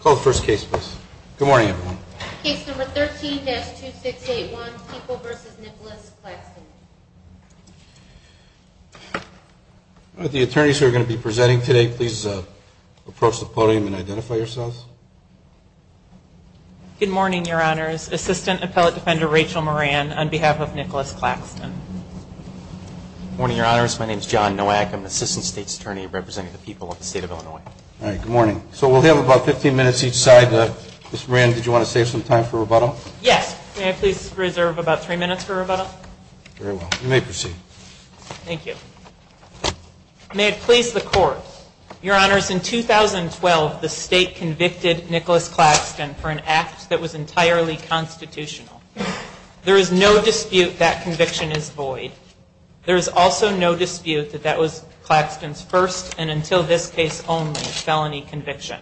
Call the first case, please. Good morning, everyone. Case number 13-2681, People v. Nicholas Claxton. The attorneys who are going to be presenting today, please approach the podium and identify yourselves. Good morning, Your Honors. Assistant Appellate Defender Rachel Moran, on behalf of Nicholas Claxton. Good morning, Your Honors. My name is John Nowak. I'm the Assistant State's Attorney representing the People of the State of Illinois. All right, good morning. So we'll have about 15 minutes each side. Ms. Moran, did you want to save some time for rebuttal? Yes. May I please reserve about three minutes for rebuttal? Very well. You may proceed. Thank you. May it please the Court. Your Honors, in 2012, the State convicted Nicholas Claxton for an act that was entirely constitutional. There is no dispute that conviction is void. There is also no dispute that that was Claxton's first, and until this case only, felony conviction.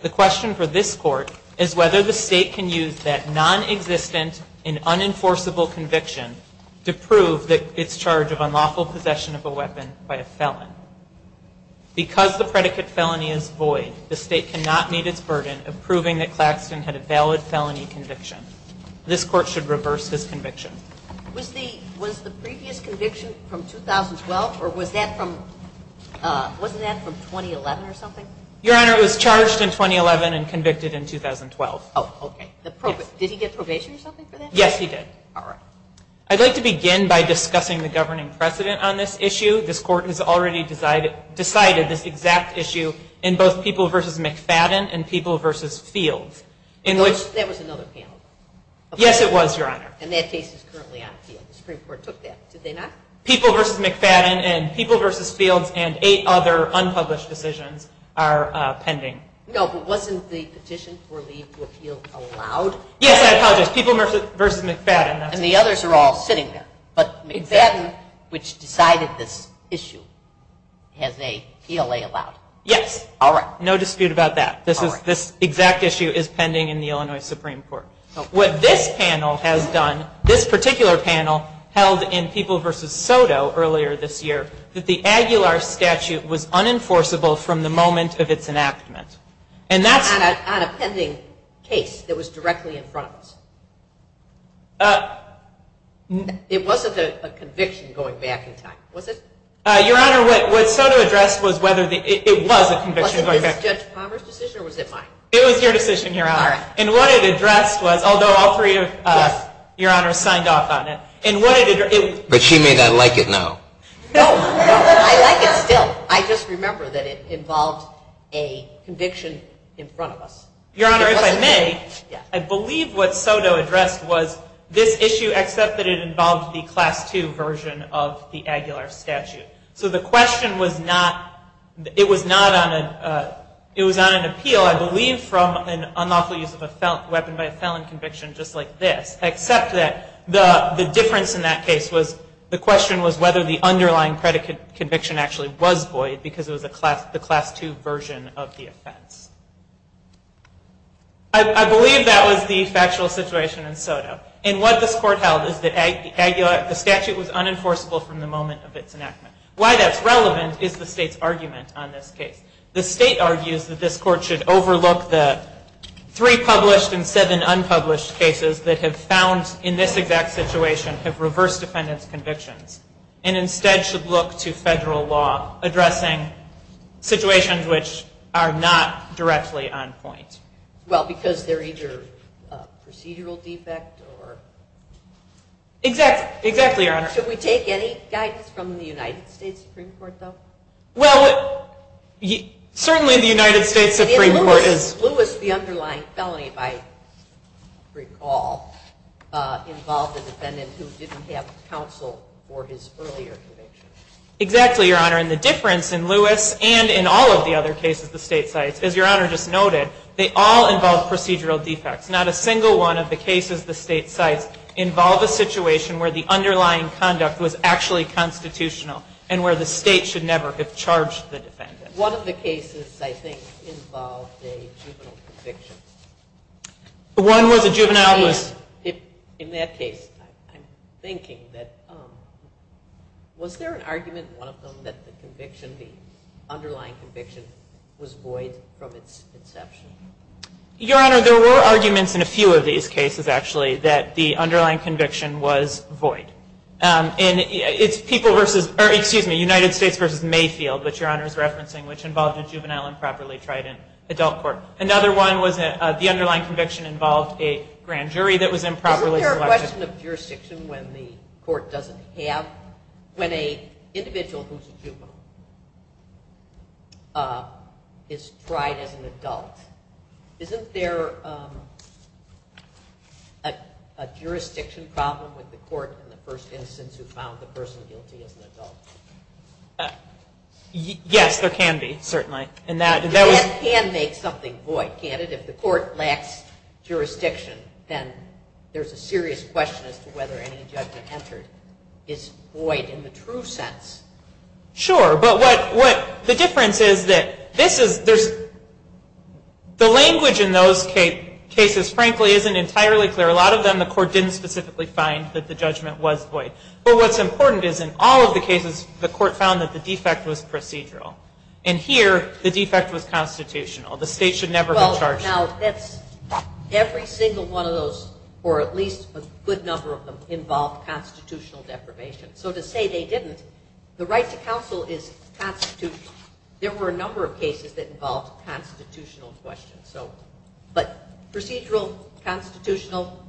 The question for this Court is whether the State can use that nonexistent and unenforceable conviction to prove that it's charged of unlawful possession of a weapon by a felon. Because the predicate felony is void, the State cannot meet its burden of proving that Claxton had a valid felony conviction. This Court should reverse his conviction. Was the previous conviction from 2012, or was that from, wasn't that from 2011 or something? Your Honor, it was charged in 2011 and convicted in 2012. Oh, okay. Did he get probation or something for that? Yes, he did. All right. I'd like to begin by discussing the governing precedent on this issue. This Court has already decided this exact issue in both People v. McFadden and People v. Fields. That was another panel. Yes, it was, Your Honor. And that case is currently on appeal. The Supreme Court took that. Did they not? People v. McFadden and People v. Fields and eight other unpublished decisions are pending. No, but wasn't the petition for leave to appeal allowed? Yes, I apologize. People v. McFadden. And the others are all sitting there. But McFadden, which decided this issue, has a PLA allowed. Yes. All right. What this panel has done, this particular panel held in People v. Soto earlier this year, that the Aguilar statute was unenforceable from the moment of its enactment. On a pending case that was directly in front of us? It wasn't a conviction going back in time, was it? Your Honor, what Soto addressed was whether it was a conviction going back in time. Was it this Judge Palmer's decision or was it mine? It was your decision, Your Honor. And what it addressed was, although all three of you, Your Honor, signed off on it. But she may not like it now. No, I like it still. I just remember that it involved a conviction in front of us. Your Honor, if I may, I believe what Soto addressed was this issue, except that it involved the Class II version of the Aguilar statute. So the question was not, it was on an appeal, I believe, from an unlawful use of a weapon by a felon conviction just like this. Except that the difference in that case was, the question was whether the underlying predicate conviction actually was void because it was the Class II version of the offense. I believe that was the factual situation in Soto. And what this Court held is that the statute was unenforceable from the moment of its enactment. Why that's relevant is the State's argument on this case. The State argues that this Court should overlook the three published and seven unpublished cases that have found, in this exact situation, have reversed defendant's convictions. And instead should look to federal law addressing situations which are not directly on point. Well, because they're either a procedural defect or... Exactly, Your Honor. Should we take any guidance from the United States Supreme Court, though? Well, certainly the United States Supreme Court is... Lewis, the underlying felony, if I recall, involved a defendant who didn't have counsel for his earlier convictions. Exactly, Your Honor. And the difference in Lewis and in all of the other cases the State cites, as Your Honor just noted, they all involve procedural defects. Not a single one of the cases the State cites involve a situation where the underlying conduct was actually constitutional and where the State should never have charged the defendant. One of the cases, I think, involved a juvenile conviction. One was a juvenile who was... In that case, I'm thinking that... Was there an argument in one of them that the conviction, the underlying conviction, was void from its inception? Your Honor, there were arguments in a few of these cases, actually, that the underlying conviction was void. And it's people versus... Excuse me, United States versus Mayfield, which Your Honor is referencing, which involved a juvenile improperly tried in adult court. Another one was the underlying conviction involved a grand jury that was improperly selected. Isn't there a question of jurisdiction when the court doesn't have... When an individual who's a juvenile is tried as an adult, isn't there a jurisdiction problem with the court in the first instance who found the person guilty as an adult? Yes, there can be, certainly. And that was... That can make something void, can't it? If the court lacks jurisdiction, then there's a serious question as to whether any judgment entered is void in the true sense. Sure. But what... The difference is that this is... There's... The language in those cases, frankly, isn't entirely clear. A lot of them, the court didn't specifically find that the judgment was void. But what's important is in all of the cases, the court found that the defect was procedural. And here, the defect was constitutional. The state should never have charged... Well, now, that's... Every single one of those, or at least a good number of them, involved constitutional deprivation. So to say they didn't, the right to counsel is constitutional. There were a number of cases that involved constitutional questions, so... But procedural, constitutional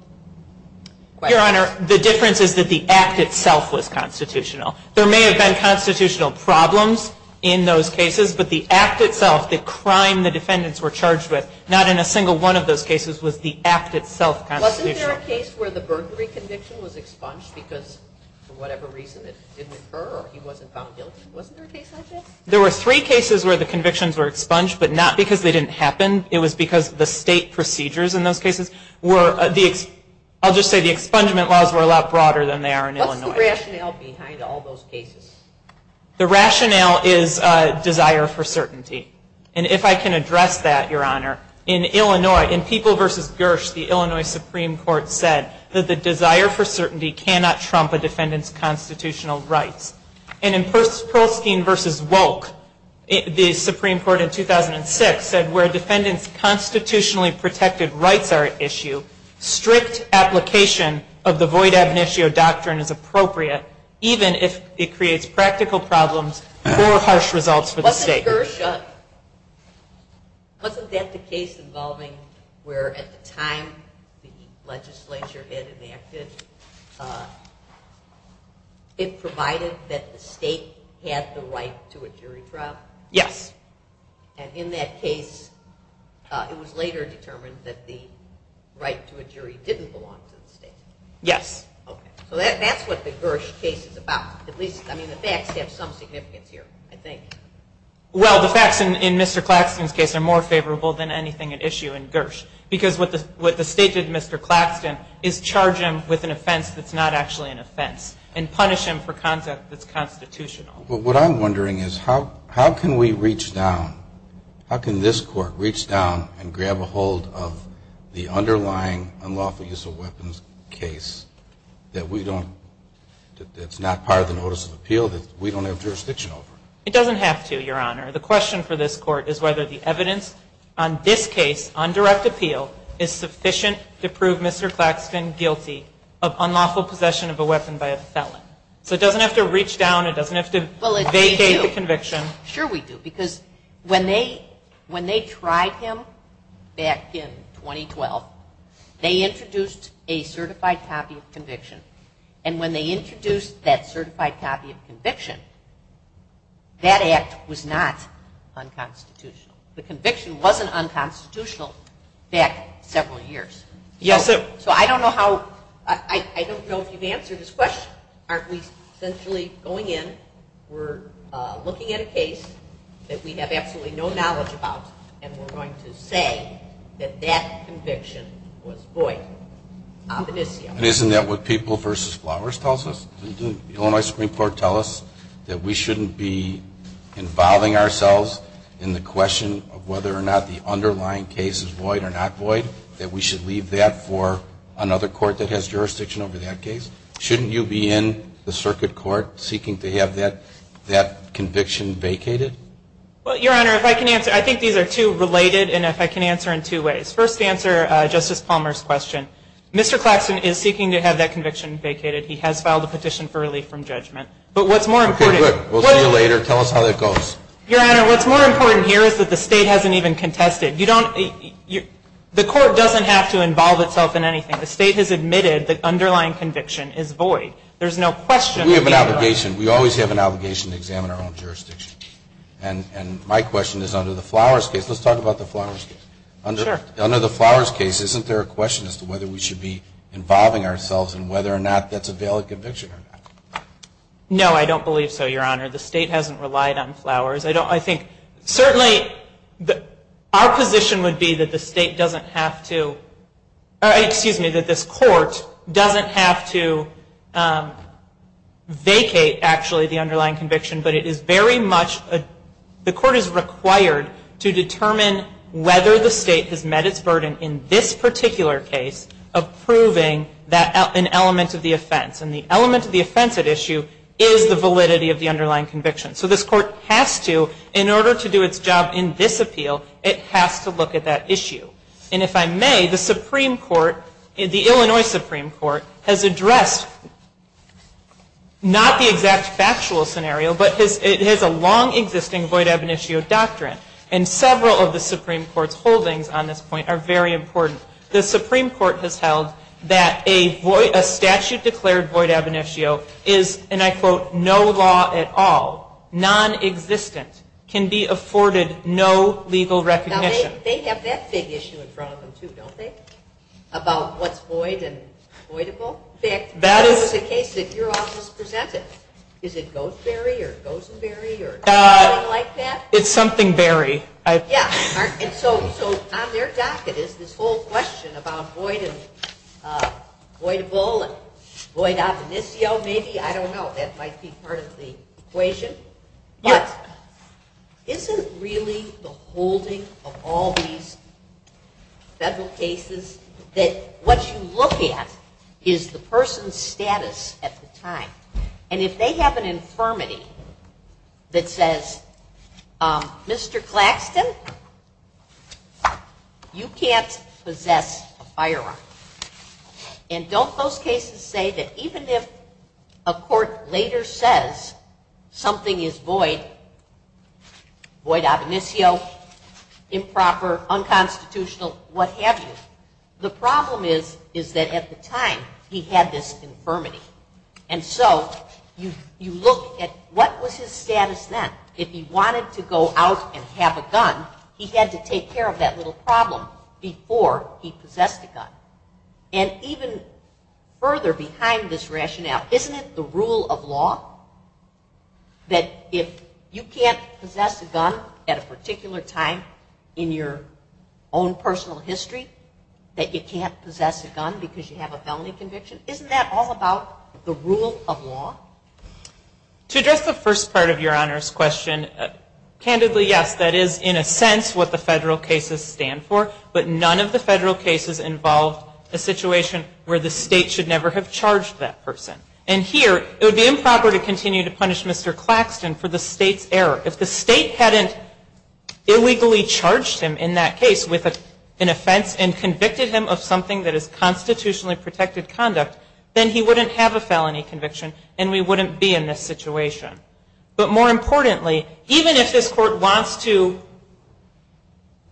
questions... Your Honor, the difference is that the act itself was constitutional. There may have been constitutional problems in those cases, but the act itself, the crime the defendants were charged with, not in a single one of those cases was the act itself constitutional. Wasn't there a case where the burglary conviction was expunged because for whatever reason it didn't occur or he wasn't found guilty? Wasn't there a case like that? There were three cases where the convictions were expunged, but not because they didn't happen. It was because the state procedures in those cases were... I'll just say the expungement laws were a lot broader than they are in Illinois. What's the rationale behind all those cases? The rationale is desire for certainty. And if I can address that, Your Honor, in Illinois, in People v. Gersh, the Illinois Supreme Court said that the desire for certainty cannot trump a defendant's constitutional rights. And in Perlstein v. Wolk, the Supreme Court in 2006 said where a defendant's constitutionally protected rights are at issue, strict application of the void ab initio doctrine is appropriate, even if it creates practical problems or harsh results for the state. Wasn't Gersh... Wasn't that the case involving where at the time the legislature had enacted, it provided that the state had the right to a jury trial? Yes. And in that case, it was later determined that the right to a jury didn't belong to the state? Yes. Okay. So that's what the Gersh case is about. At least, I mean, the facts have some significance here, I think. Well, the facts in Mr. Claxton's case are more favorable than anything at issue in Gersh because what the state did to Mr. Claxton is charge him with an offense that's not actually an offense and punish him for content that's constitutional. But what I'm wondering is how can we reach down, how can this Court reach down and grab a hold of the underlying unlawful use of weapons case that we don't, that's not part of the notice of appeal that we don't have jurisdiction over? It doesn't have to, Your Honor. The question for this Court is whether the evidence on this case, on direct appeal, is sufficient to prove Mr. Claxton guilty of unlawful possession of a weapon by a felon. So it doesn't have to reach down. It doesn't have to vacate the conviction. Sure we do because when they tried him back in 2012, they introduced a certified copy of conviction. And when they introduced that certified copy of conviction, that act was not unconstitutional. The conviction wasn't unconstitutional back several years. Yes, it was. So I don't know how, I don't know if you've answered this question. Aren't we essentially going in, we're looking at a case that we have absolutely no knowledge about, and we're going to say that that conviction was void. And isn't that what People v. Flowers tells us? Didn't the Illinois Supreme Court tell us that we shouldn't be involving ourselves in the question of whether or not the underlying case is void or not void, that we should leave that for another court that has jurisdiction over that case? Shouldn't you be in the circuit court seeking to have that conviction vacated? Well, Your Honor, if I can answer, I think these are two related, and if I can answer in two ways. First, to answer Justice Palmer's question, Mr. Claxton is seeking to have that conviction vacated. He has filed a petition for relief from judgment. But what's more important – Okay, good. We'll see you later. Tell us how that goes. Your Honor, what's more important here is that the state hasn't even contested. You don't, the court doesn't have to involve itself in anything. The state has admitted the underlying conviction is void. There's no question – We have an obligation. We always have an obligation to examine our own jurisdiction. And my question is, under the Flowers case, let's talk about the Flowers case. Sure. Under the Flowers case, isn't there a question as to whether we should be involving ourselves in whether or not that's a valid conviction or not? No, I don't believe so, Your Honor. The state hasn't relied on Flowers. I think, certainly, our position would be that the state doesn't have to – excuse me, that this court doesn't have to vacate, actually, the underlying conviction. But it is very much – the court is required to determine whether the state has met its burden in this particular case of proving an element of the offense. And the element of the offense at issue is the validity of the underlying conviction. So this court has to, in order to do its job in this appeal, it has to look at that issue. And if I may, the Supreme Court, the Illinois Supreme Court, has addressed not the exact factual scenario, but it has a long-existing void ab initio doctrine. And several of the Supreme Court's holdings on this point are very important. The Supreme Court has held that a statute declared void ab initio is, and I quote, no law at all, nonexistent, can be afforded no legal recognition. Now, they have that big issue in front of them, too, don't they, about what's void and voidable? In fact, that is the case that your office presented. Is it goes and bury or goes and bury or something like that? It's something bury. Yeah. And so on their docket is this whole question about void and voidable and void ab initio, maybe. I don't know. That might be part of the equation. Isn't really the holding of all these federal cases that what you look at is the person's status at the time? And if they have an infirmity that says, Mr. Claxton, you can't possess a firearm. And don't those cases say that even if a court later says something is void, void ab initio, improper, unconstitutional, what have you, the problem is that at the time he had this infirmity. And so you look at what was his status then. If he wanted to go out and have a gun, he had to take care of that little problem before he possessed a gun. And even further behind this rationale, isn't it the rule of law that if you can't possess a gun at a particular time in your own personal history, that you can't possess a gun because you have a felony conviction? Isn't that all about the rule of law? To address the first part of Your Honor's question, candidly, yes, that is in a sense what the federal cases stand for. But none of the federal cases involved a situation where the state should never have charged that person. And here, it would be improper to continue to punish Mr. Claxton for the state's error. If the state hadn't illegally charged him in that case with an offense and convicted him of something that is he wouldn't be in this situation. But more importantly, even if this court wants to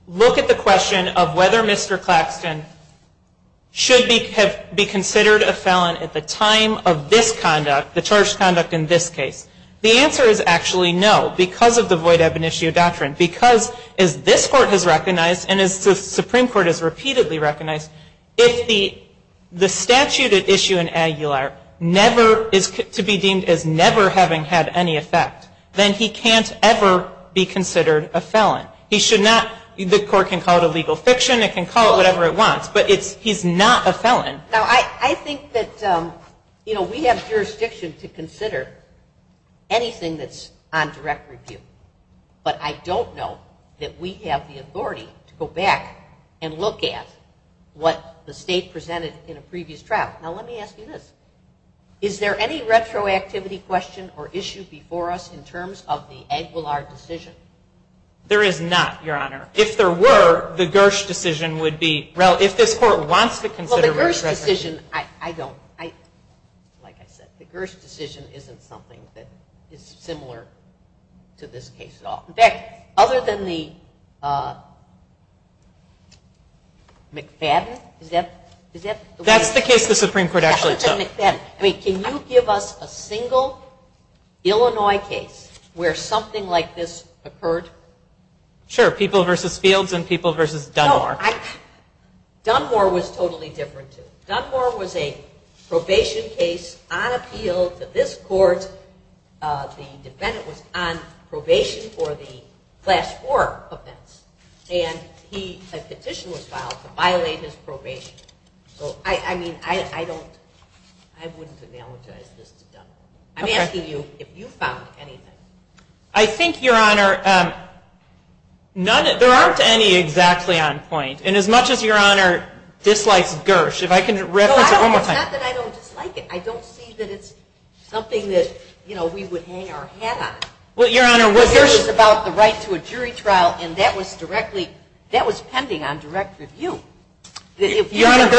look at the question of whether Mr. Claxton should be considered a felon at the time of this conduct, the charged conduct in this case, the answer is actually no, because of the void ebony doctrine. Because as this court has recognized, and as the Supreme Court has repeatedly recognized, if the statute at issue in Aguilar is to be deemed as never having had any effect, then he can't ever be considered a felon. He should not, the court can call it a legal fiction, it can call it whatever it wants, but he's not a felon. Now, I think that we have jurisdiction to consider anything that's on direct review. But I don't know that we have the authority to go back and look at what the state presented in a previous trial. Now, let me ask you this. Is there any retroactivity question or issue before us in terms of the Aguilar decision? There is not, Your Honor. If there were, the Gersh decision would be, if this court wants to consider retroactivity. The Gersh decision, I don't, like I said, the Gersh decision isn't something that is similar to this case at all. In fact, other than the McFadden, is that? That's the case the Supreme Court actually took. I mean, can you give us a single Illinois case where something like this occurred? Sure, People v. Fields and People v. Dunmore. Dunmore was totally different, too. Dunmore was a probation case on appeal to this court. The defendant was on probation for the class 4 offense, and a petition was filed to violate his probation. So, I mean, I don't, I wouldn't analogize this to Dunmore. I'm asking you if you found anything. I think, Your Honor, none, there aren't any exactly on point. And as much as Your Honor dislikes Gersh, if I can reference it one more time. No, it's not that I don't dislike it. I don't see that it's something that, you know, we would hang our hat on. Well, Your Honor, what Gersh It was about the right to a jury trial, and that was directly, that was pending on direct review. Your Honor,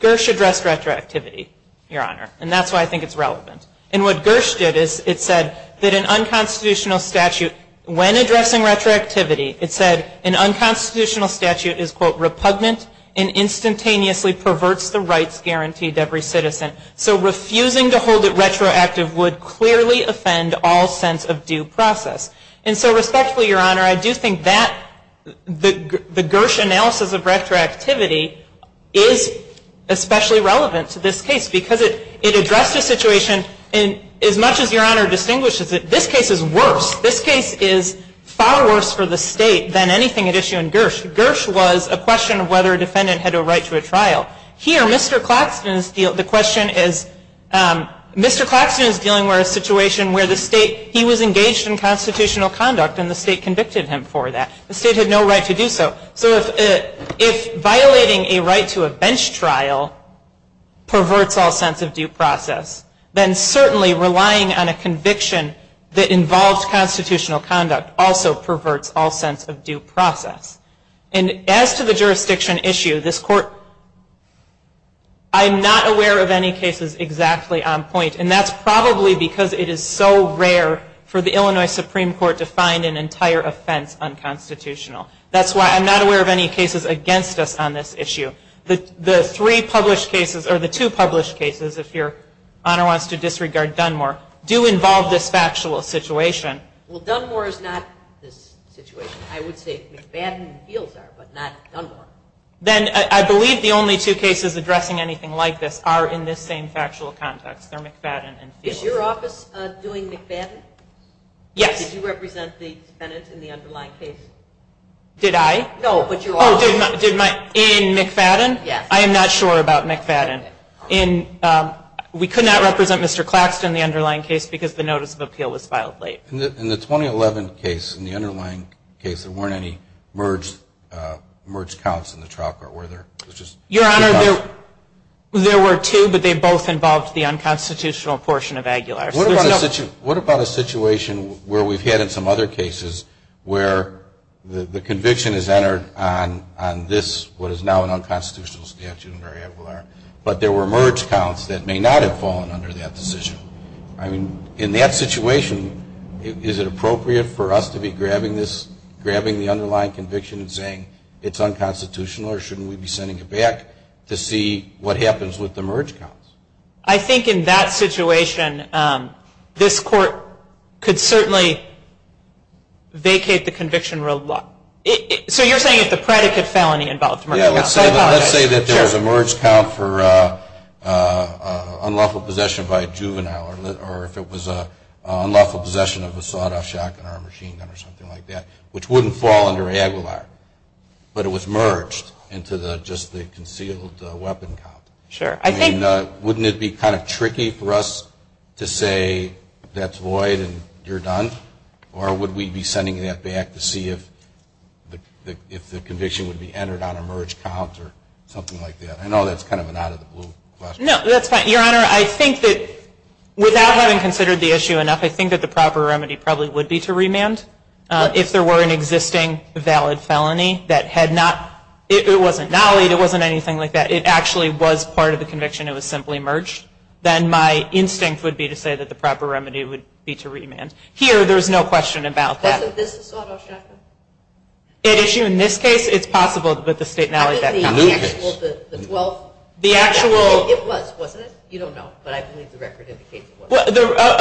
Gersh addressed retroactivity, Your Honor, and that's why I think it's relevant. And what Gersh did is it said that an unconstitutional statute, when addressing retroactivity, it said an unconstitutional statute is, quote, repugnant and instantaneously perverts the rights guaranteed to every citizen. So refusing to hold it retroactive would clearly offend all sense of due process. And so respectfully, Your Honor, I do think that the Gersh analysis of retroactivity is especially relevant to this case because it addressed a situation, and as much as Your Honor distinguishes it, this case is worse. This case is far worse for the state than anything at issue in Gersh. Gersh was a question of whether a defendant had a right to a trial. Here, Mr. Claxton is, the question is, Mr. Claxton is dealing with a situation where the state, he was engaged in constitutional conduct and the state convicted him for that. The state had no right to do so. So if violating a right to a bench trial perverts all sense of due process, then certainly relying on a conviction that involved constitutional conduct also perverts all sense of due process. And as to the jurisdiction issue, this court, I'm not aware of any cases exactly on point, and that's probably because it is so rare for the Illinois Supreme Court to find an entire offense unconstitutional. That's why I'm not aware of any cases against us on this issue. The three published cases, or the two published cases, if Your Honor wants to disregard Dunmore, do involve this factual situation. Well, Dunmore is not this situation. I would say McFadden and Fields are, but not Dunmore. Then I believe the only two cases addressing anything like this are in this same factual context. They're McFadden and Fields. Is your office doing McFadden? Yes. Did you represent the defendant in the underlying case? Did I? No, but your office did. Oh, in McFadden? Yes. I am not sure about McFadden. We could not represent Mr. Claxton in the underlying case because the notice of appeal was filed late. In the 2011 case, in the underlying case, there weren't any merge counts in the trial court, were there? Your Honor, there were two, but they both involved the unconstitutional portion of Aguilar. What about a situation where we've had in some other cases where the conviction is entered on this, what is now an unconstitutional statute under Aguilar, but there were merge counts that may not have fallen under that decision? I mean, in that situation, is it appropriate for us to be grabbing the underlying conviction and saying it's unconstitutional or shouldn't we be sending it back to see what happens with the merge counts? I think in that situation, this court could certainly vacate the conviction. So you're saying that the predicate felony involved merge counts? Yes, let's say that there was a merge count for unlawful possession by a juvenile or if it was unlawful possession of a sawed-off shotgun or a machine gun or something like that, which wouldn't fall under Aguilar, but it was merged into just the concealed weapon count. Sure. I mean, wouldn't it be kind of tricky for us to say that's void and you're done? Or would we be sending that back to see if the conviction would be entered on a merge count or something like that? I know that's kind of an out-of-the-blue question. No, that's fine. Your Honor, I think that without having considered the issue enough, I think that the proper remedy probably would be to remand if there were an existing valid felony that had not, it wasn't nollied, it wasn't anything like that. If it actually was part of the conviction, it was simply merged, then my instinct would be to say that the proper remedy would be to remand. Here, there's no question about that. Wasn't this a sawed-off shotgun? In this case, it's possible, but the state nollied that count. How about the actual, the 12? It was, wasn't it? You don't know, but I believe the record indicates it was.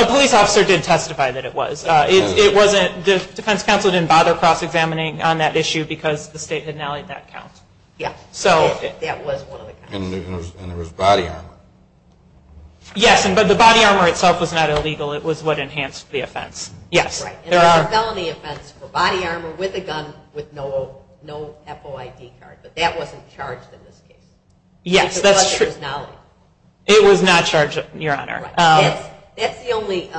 A police officer did testify that it was. Defense counsel didn't bother cross-examining on that issue because the state had nollied that count. Yeah, that was one of the counts. And there was body armor. Yes, but the body armor itself was not illegal. It was what enhanced the offense. Right, and there's a felony offense for body armor with a gun with no FOID card, but that wasn't charged in this case. Yes, that's true. Because it was nollied. It was not charged, Your Honor. That's the only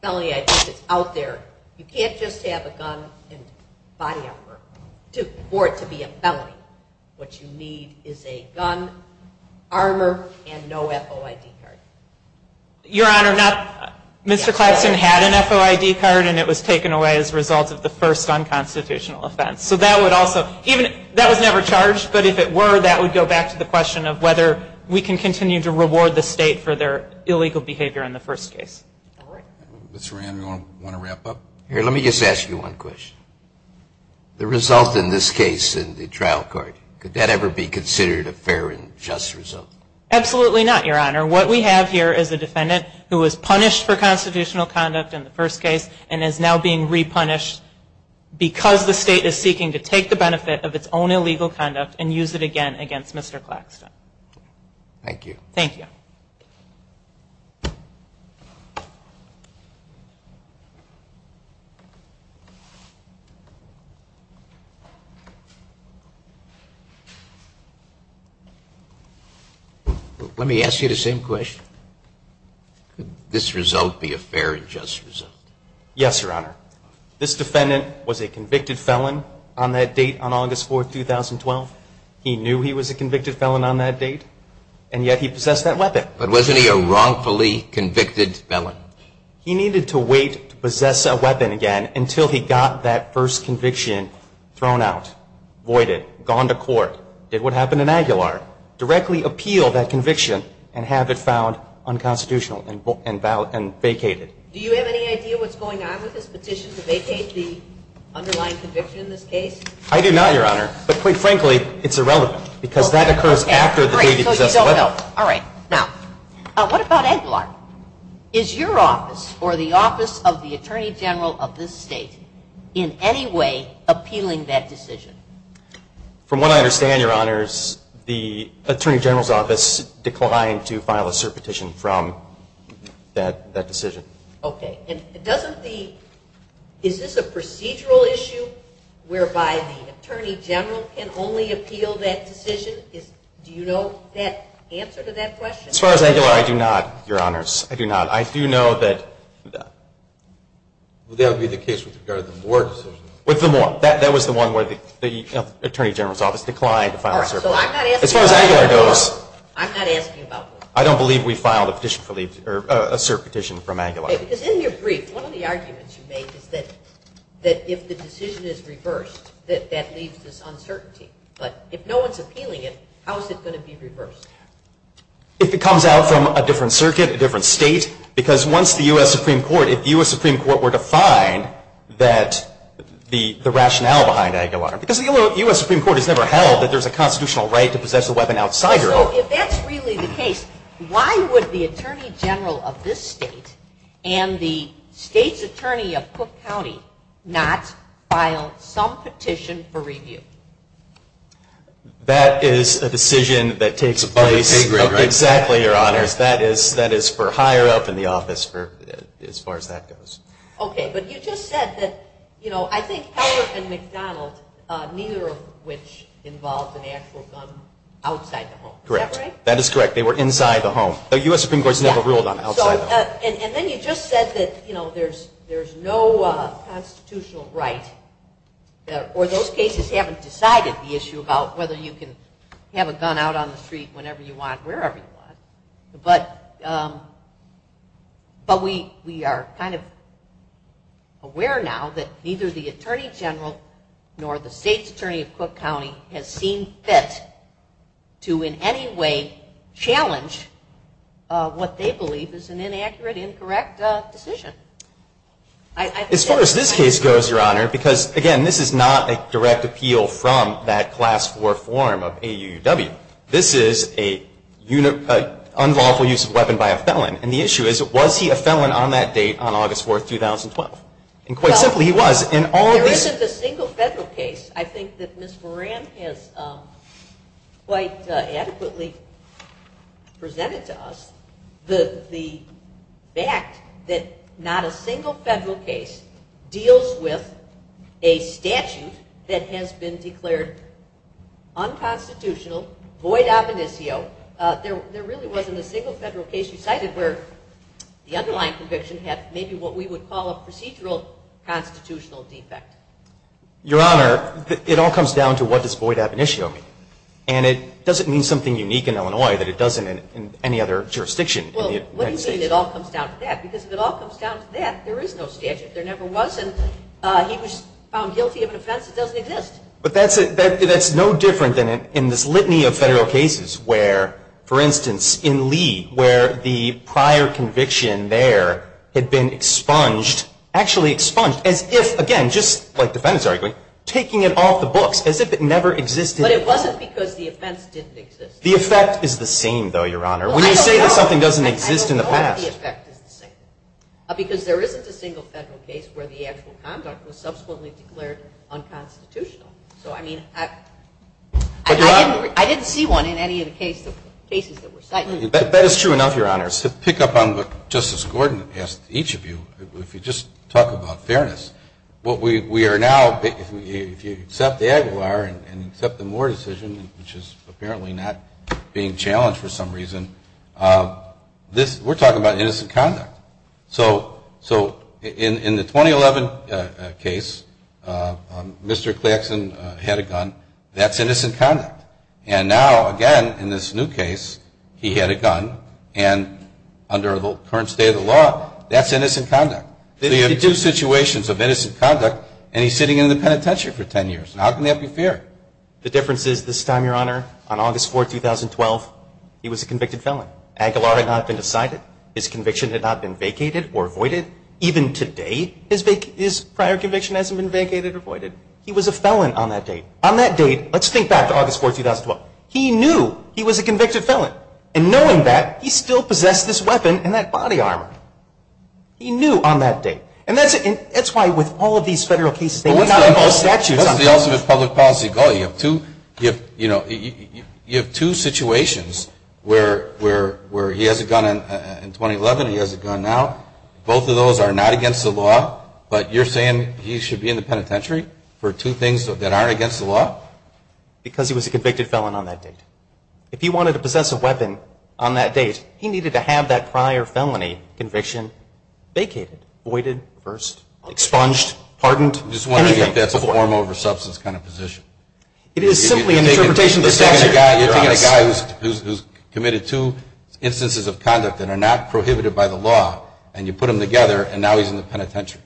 felony I think that's out there. You can't just have a gun and body armor for it to be a felony. What you need is a gun, armor, and no FOID card. Your Honor, Mr. Clapson had an FOID card, and it was taken away as a result of the first unconstitutional offense. So that would also, that was never charged, but if it were, that would go back to the question of whether we can continue to reward the state for their illegal behavior in the first case. Mr. Rand, do you want to wrap up? Here, let me just ask you one question. The result in this case in the trial court, could that ever be considered a fair and just result? Absolutely not, Your Honor. What we have here is a defendant who was punished for constitutional conduct in the first case and is now being repunished because the state is seeking to take the benefit of its own illegal conduct and use it again against Mr. Claxton. Thank you. Thank you. Thank you. Let me ask you the same question. Could this result be a fair and just result? Yes, Your Honor. This defendant was a convicted felon on that date on August 4, 2012. He knew he was a convicted felon on that date, and yet he possessed that weapon. But wasn't he a wrongfully convicted felon? He needed to wait to possess a weapon again until he got that first conviction thrown out, voided, gone to court, did what happened in Aguilar, directly appeal that conviction and have it found unconstitutional and vacated. Do you have any idea what's going on with this petition to vacate the underlying conviction in this case? I do not, Your Honor. But quite frankly, it's irrelevant because that occurs after the date he possessed the weapon. No. All right. Now, what about Aguilar? Is your office or the office of the Attorney General of this state in any way appealing that decision? From what I understand, Your Honors, the Attorney General's office declined to file a cert petition from that decision. Okay. And doesn't the – is this a procedural issue whereby the Attorney General can only appeal that decision? Do you know the answer to that question? As far as Aguilar, I do not, Your Honors. I do not. I do know that – Well, that would be the case with regard to the Moore decision. With the Moore. That was the one where the Attorney General's office declined to file a cert petition. All right. So I'm not asking about Moore. As far as Aguilar goes, I don't believe we filed a cert petition from Aguilar. Because in your brief, one of the arguments you made is that if the decision is reversed, that that leaves this uncertainty. But if no one's appealing it, how is it going to be reversed? If it comes out from a different circuit, a different state. Because once the U.S. Supreme Court – if the U.S. Supreme Court were to find that the rationale behind Aguilar – because the U.S. Supreme Court has never held that there's a constitutional right to possess a weapon outside your office. So if that's really the case, why would the Attorney General of this state and the state's attorney of Cook County not file some petition for review? That is a decision that takes place – On the pay grade, right? Exactly, Your Honors. That is for higher up in the office, as far as that goes. Okay. But you just said that – you know, I think Heller and McDonald, neither of which involved an actual gun outside the home. Is that right? That is correct. They were inside the home. The U.S. Supreme Court's never ruled on it outside the home. And then you just said that, you know, there's no constitutional right. Or those cases haven't decided the issue about whether you can have a gun out on the street whenever you want, wherever you want. But we are kind of aware now that neither the Attorney General nor the state's attorney of Cook County has seen fit to in any way challenge what they believe is an inaccurate, incorrect decision. As far as this case goes, Your Honor, because, again, this is not a direct appeal from that Class IV form of AUUW. This is an unlawful use of a weapon by a felon. And the issue is, was he a felon on that date, on August 4, 2012? And quite simply, he was. There isn't a single federal case, I think, that Ms. Moran has quite adequately presented to us, the fact that not a single federal case deals with a statute that has been declared unconstitutional, void of initio. There really wasn't a single federal case you cited where the underlying conviction had maybe what we would call procedural constitutional defect. Your Honor, it all comes down to what does void of initio mean. And it doesn't mean something unique in Illinois that it doesn't in any other jurisdiction. Well, what do you mean it all comes down to that? Because if it all comes down to that, there is no statute. There never was. And he was found guilty of an offense that doesn't exist. But that's no different than in this litany of federal cases where, for instance, in Lee, where the prior conviction there had been expunged, actually expunged, as if, again, just like defendants arguing, taking it off the books, as if it never existed. But it wasn't because the offense didn't exist. The effect is the same, though, Your Honor. When you say that something doesn't exist in the past. I don't know if the effect is the same. Because there isn't a single federal case where the actual conduct was subsequently declared unconstitutional. So, I mean, I didn't see one in any of the cases that were cited. That is true enough, Your Honor. To pick up on what Justice Gordon asked each of you, if you just talk about fairness, what we are now, if you accept the Aguilar and accept the Moore decision, which is apparently not being challenged for some reason, we're talking about innocent conduct. So in the 2011 case, Mr. Claxton had a gun. That's innocent conduct. And now, again, in this new case, he had a gun, and under the current state of the law, that's innocent conduct. So you have two situations of innocent conduct, and he's sitting in the penitentiary for 10 years. How can that be fair? The difference is this time, Your Honor, on August 4, 2012, he was a convicted felon. Aguilar had not been decided. His conviction had not been vacated or voided. Even today, his prior conviction hasn't been vacated or voided. He was a felon on that date. On that date, let's think back to August 4, 2012. He knew he was a convicted felon. And knowing that, he still possessed this weapon and that body armor. He knew on that date. And that's why with all of these federal cases, they do not have all statutes on them. That's the ultimate public policy goal. You have two situations where he has a gun in 2011 and he has a gun now. Both of those are not against the law. But you're saying he should be in the penitentiary for two things that aren't against the law? Because he was a convicted felon on that date. If he wanted to possess a weapon on that date, he needed to have that prior felony conviction vacated, voided, reversed, expunged, pardoned, anything. I'm just wondering if that's a form over substance kind of position. It is simply an interpretation of the statute. You're taking a guy who's committed two instances of conduct that are not prohibited by the law, and you put them together, and now he's in the penitentiary.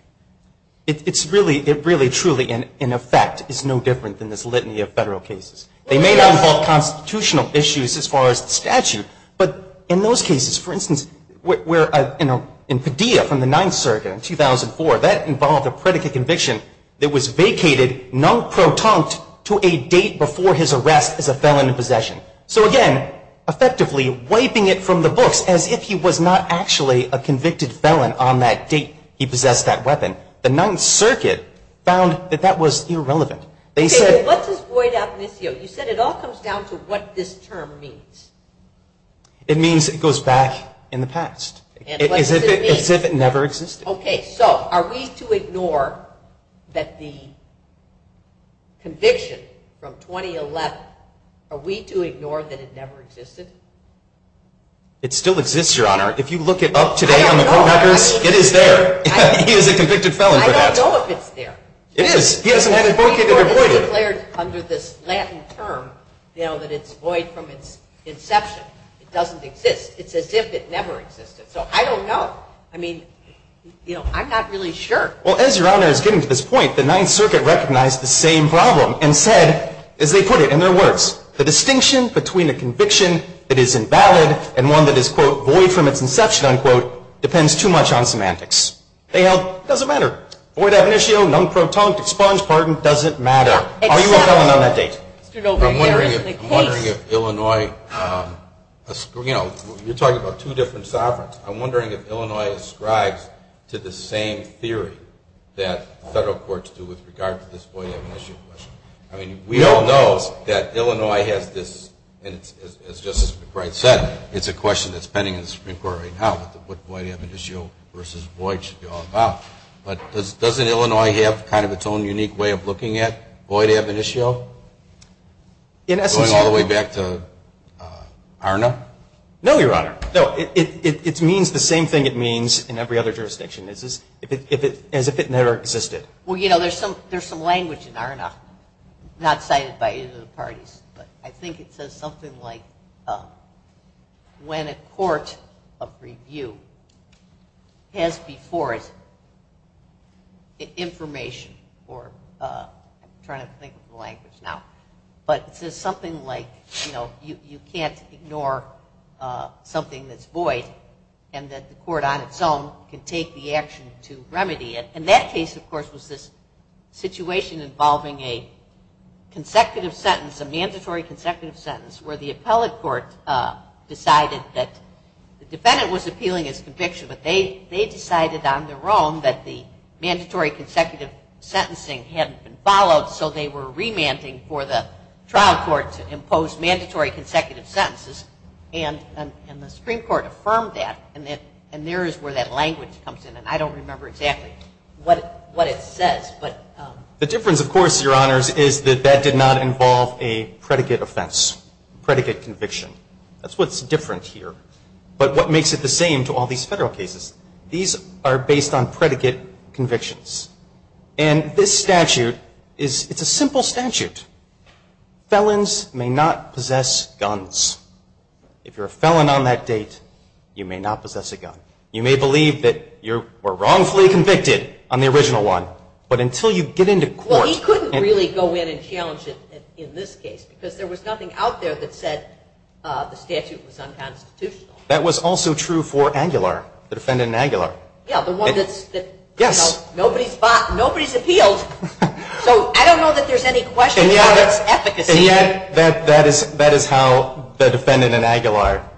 It really, truly, in effect, is no different than this litany of federal cases. They may not involve constitutional issues as far as the statute, but in those cases, for instance, in Padilla from the Ninth Circuit in 2004, that involved a predicate conviction that was vacated non-protonct to a date before his arrest as a felon in possession. So, again, effectively wiping it from the books as if he was not actually a convicted felon on that date he possessed that weapon. The Ninth Circuit found that that was irrelevant. They said- Okay, what does void ad misio? You said it all comes down to what this term means. It means it goes back in the past. And what does it mean? As if it never existed. Okay, so are we to ignore that the conviction from 2011, are we to ignore that it never existed? It still exists, Your Honor. If you look it up today on the court records, it is there. He is a convicted felon for that. I don't know if it's there. It is. He hasn't had it vacated or voided. It's declared under this Latin term that it's void from its inception. It doesn't exist. It's as if it never existed. So I don't know. I mean, you know, I'm not really sure. Well, as Your Honor is getting to this point, the Ninth Circuit recognized the same problem and said, as they put it in their words, the distinction between a conviction that is invalid and one that is, quote, void from its inception, unquote, depends too much on semantics. They held it doesn't matter. Void ad misio, non-protonic, expunge, pardon, doesn't matter. Are you a felon on that date? I'm wondering if Illinois, you know, you're talking about two different sovereigns. I'm wondering if Illinois ascribes to the same theory that federal courts do with regard to this void ad misio question. I mean, we all know that Illinois has this, and as Justice McBride said, it's a question that's pending in the Supreme Court right now, what void ad misio versus void should be all about. But doesn't Illinois have kind of its own unique way of looking at void ad misio going all the way back to ARNA? No, Your Honor. No, it means the same thing it means in every other jurisdiction, as if it never existed. Well, you know, there's some language in ARNA not cited by either of the parties, but I think it says something like when a court of review has before it information or I'm trying to think of the language now, but it says something like, you know, you can't ignore something that's void and that the court on its own can take the action to remedy it. And that case, of course, was this situation involving a consecutive sentence, a mandatory consecutive sentence where the appellate court decided that the defendant was appealing his conviction, but they decided on their own that the mandatory consecutive sentencing hadn't been followed, so they were remanding for the trial court to impose mandatory consecutive sentences, and the Supreme Court affirmed that, and there is where that language comes in, and I don't remember exactly what it says. The difference, of course, Your Honors, is that that did not involve a predicate offense, predicate conviction. That's what's different here, but what makes it the same to all these federal cases? These are based on predicate convictions, and this statute is a simple statute. Felons may not possess guns. If you're a felon on that date, you may not possess a gun. You may believe that you were wrongfully convicted on the original one, but until you get into court. Well, he couldn't really go in and challenge it in this case because there was nothing out there that said the statute was unconstitutional. That was also true for Aguilar, the defendant in Aguilar. Yeah, the one that's, you know, nobody's appealed, so I don't know that there's any question of its efficacy. And yet that is how the defendant in Aguilar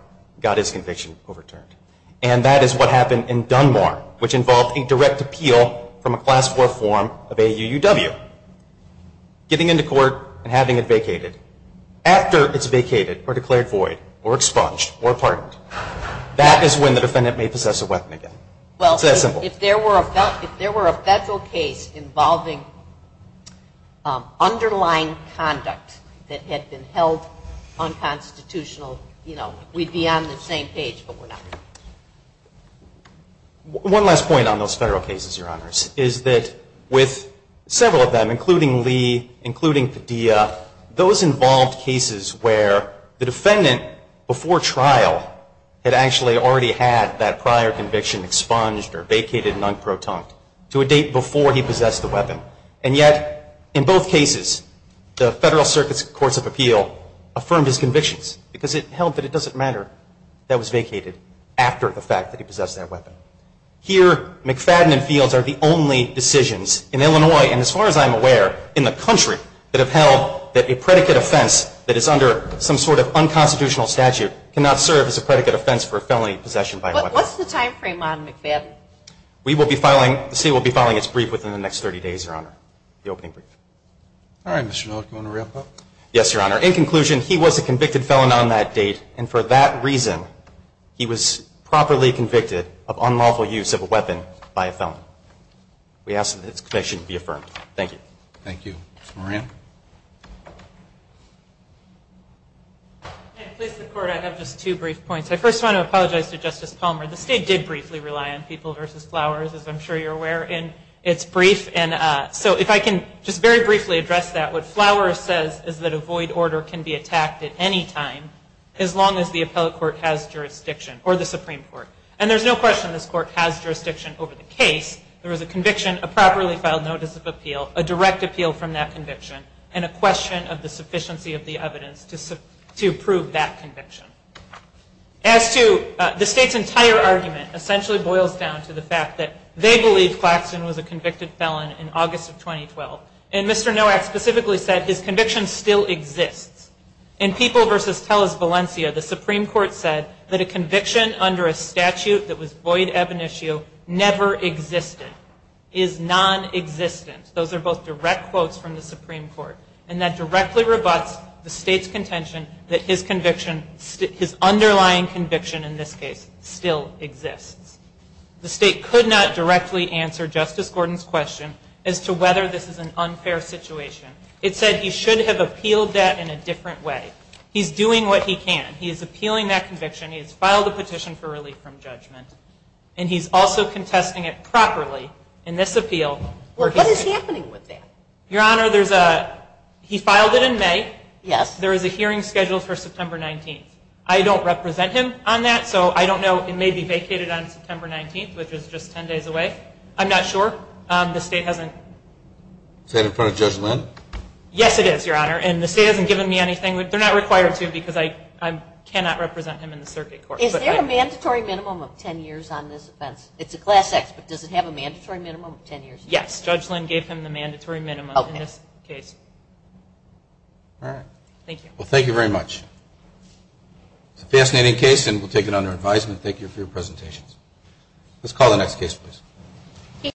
got his conviction overturned, and that is what happened in Dunmore, which involved a direct appeal from a Class IV form of AUUW, getting into court and having it vacated. After it's vacated or declared void or expunged or pardoned, that is when the defendant may possess a weapon again. It's that simple. Well, if there were a federal case involving underlying conduct that had been held unconstitutional, you know, we'd be on the same page, but we're not. One last point on those federal cases, Your Honors, is that with several of them, including Lee, including Padilla, those involved cases where the defendant, before trial, had actually already had that prior conviction expunged or vacated non-proton to a date before he possessed the weapon. And yet, in both cases, the Federal Circuit's Courts of Appeal affirmed his convictions because it held that it doesn't matter that it was vacated after the fact that he possessed that weapon. Here, McFadden and Fields are the only decisions in Illinois, and as far as I'm aware, in the country that have held that a predicate offense that is under some sort of unconstitutional statute cannot serve as a predicate offense for a felony possession by a weapon. What's the timeframe on McFadden? We will be filing, the state will be filing its brief within the next 30 days, Your Honor, the opening brief. All right, Mr. Nolot, do you want to wrap up? Yes, Your Honor. In conclusion, he was a convicted felon on that date, and for that reason he was properly convicted of unlawful use of a weapon by a felon. We ask that this conviction be affirmed. Thank you. Thank you. Ms. Moran? And to please the Court, I have just two brief points. I first want to apologize to Justice Palmer. The state did briefly rely on People v. Flowers, as I'm sure you're aware, in its brief. So if I can just very briefly address that. What Flowers says is that a void order can be attacked at any time, as long as the appellate court has jurisdiction, or the Supreme Court. And there's no question this court has jurisdiction over the case. There was a conviction, a properly filed notice of appeal, a direct appeal from that conviction, and a question of the sufficiency of the evidence to prove that conviction. As to the state's entire argument, essentially boils down to the fact that they believe Claxton was a convicted felon in August of 2012. And Mr. Nowak specifically said his conviction still exists. In People v. Tellus, Valencia, the Supreme Court said that a conviction under a statute that was void ebonitio never existed, is non-existent. Those are both direct quotes from the Supreme Court. And that directly rebuts the state's contention that his conviction, his underlying conviction in this case, still exists. The state could not directly answer Justice Gordon's question as to whether this is an unfair situation. It said he should have appealed that in a different way. He's doing what he can. He is appealing that conviction. He has filed a petition for relief from judgment. And he's also contesting it properly in this appeal. Well, what is happening with that? Your Honor, there's a, he filed it in May. Yes. There is a hearing scheduled for September 19th. I don't represent him on that, so I don't know. It may be vacated on September 19th, which is just 10 days away. I'm not sure. The state hasn't. Is that in front of Judge Lynn? Yes, it is, Your Honor. And the state hasn't given me anything. They're not required to because I cannot represent him in the circuit court. Is there a mandatory minimum of 10 years on this offense? It's a Class X, but does it have a mandatory minimum of 10 years? Yes. Judge Lynn gave him the mandatory minimum in this case. All right. Thank you. Well, thank you very much. It's a fascinating case, and we'll take it under advisement. Let's call the next case, please.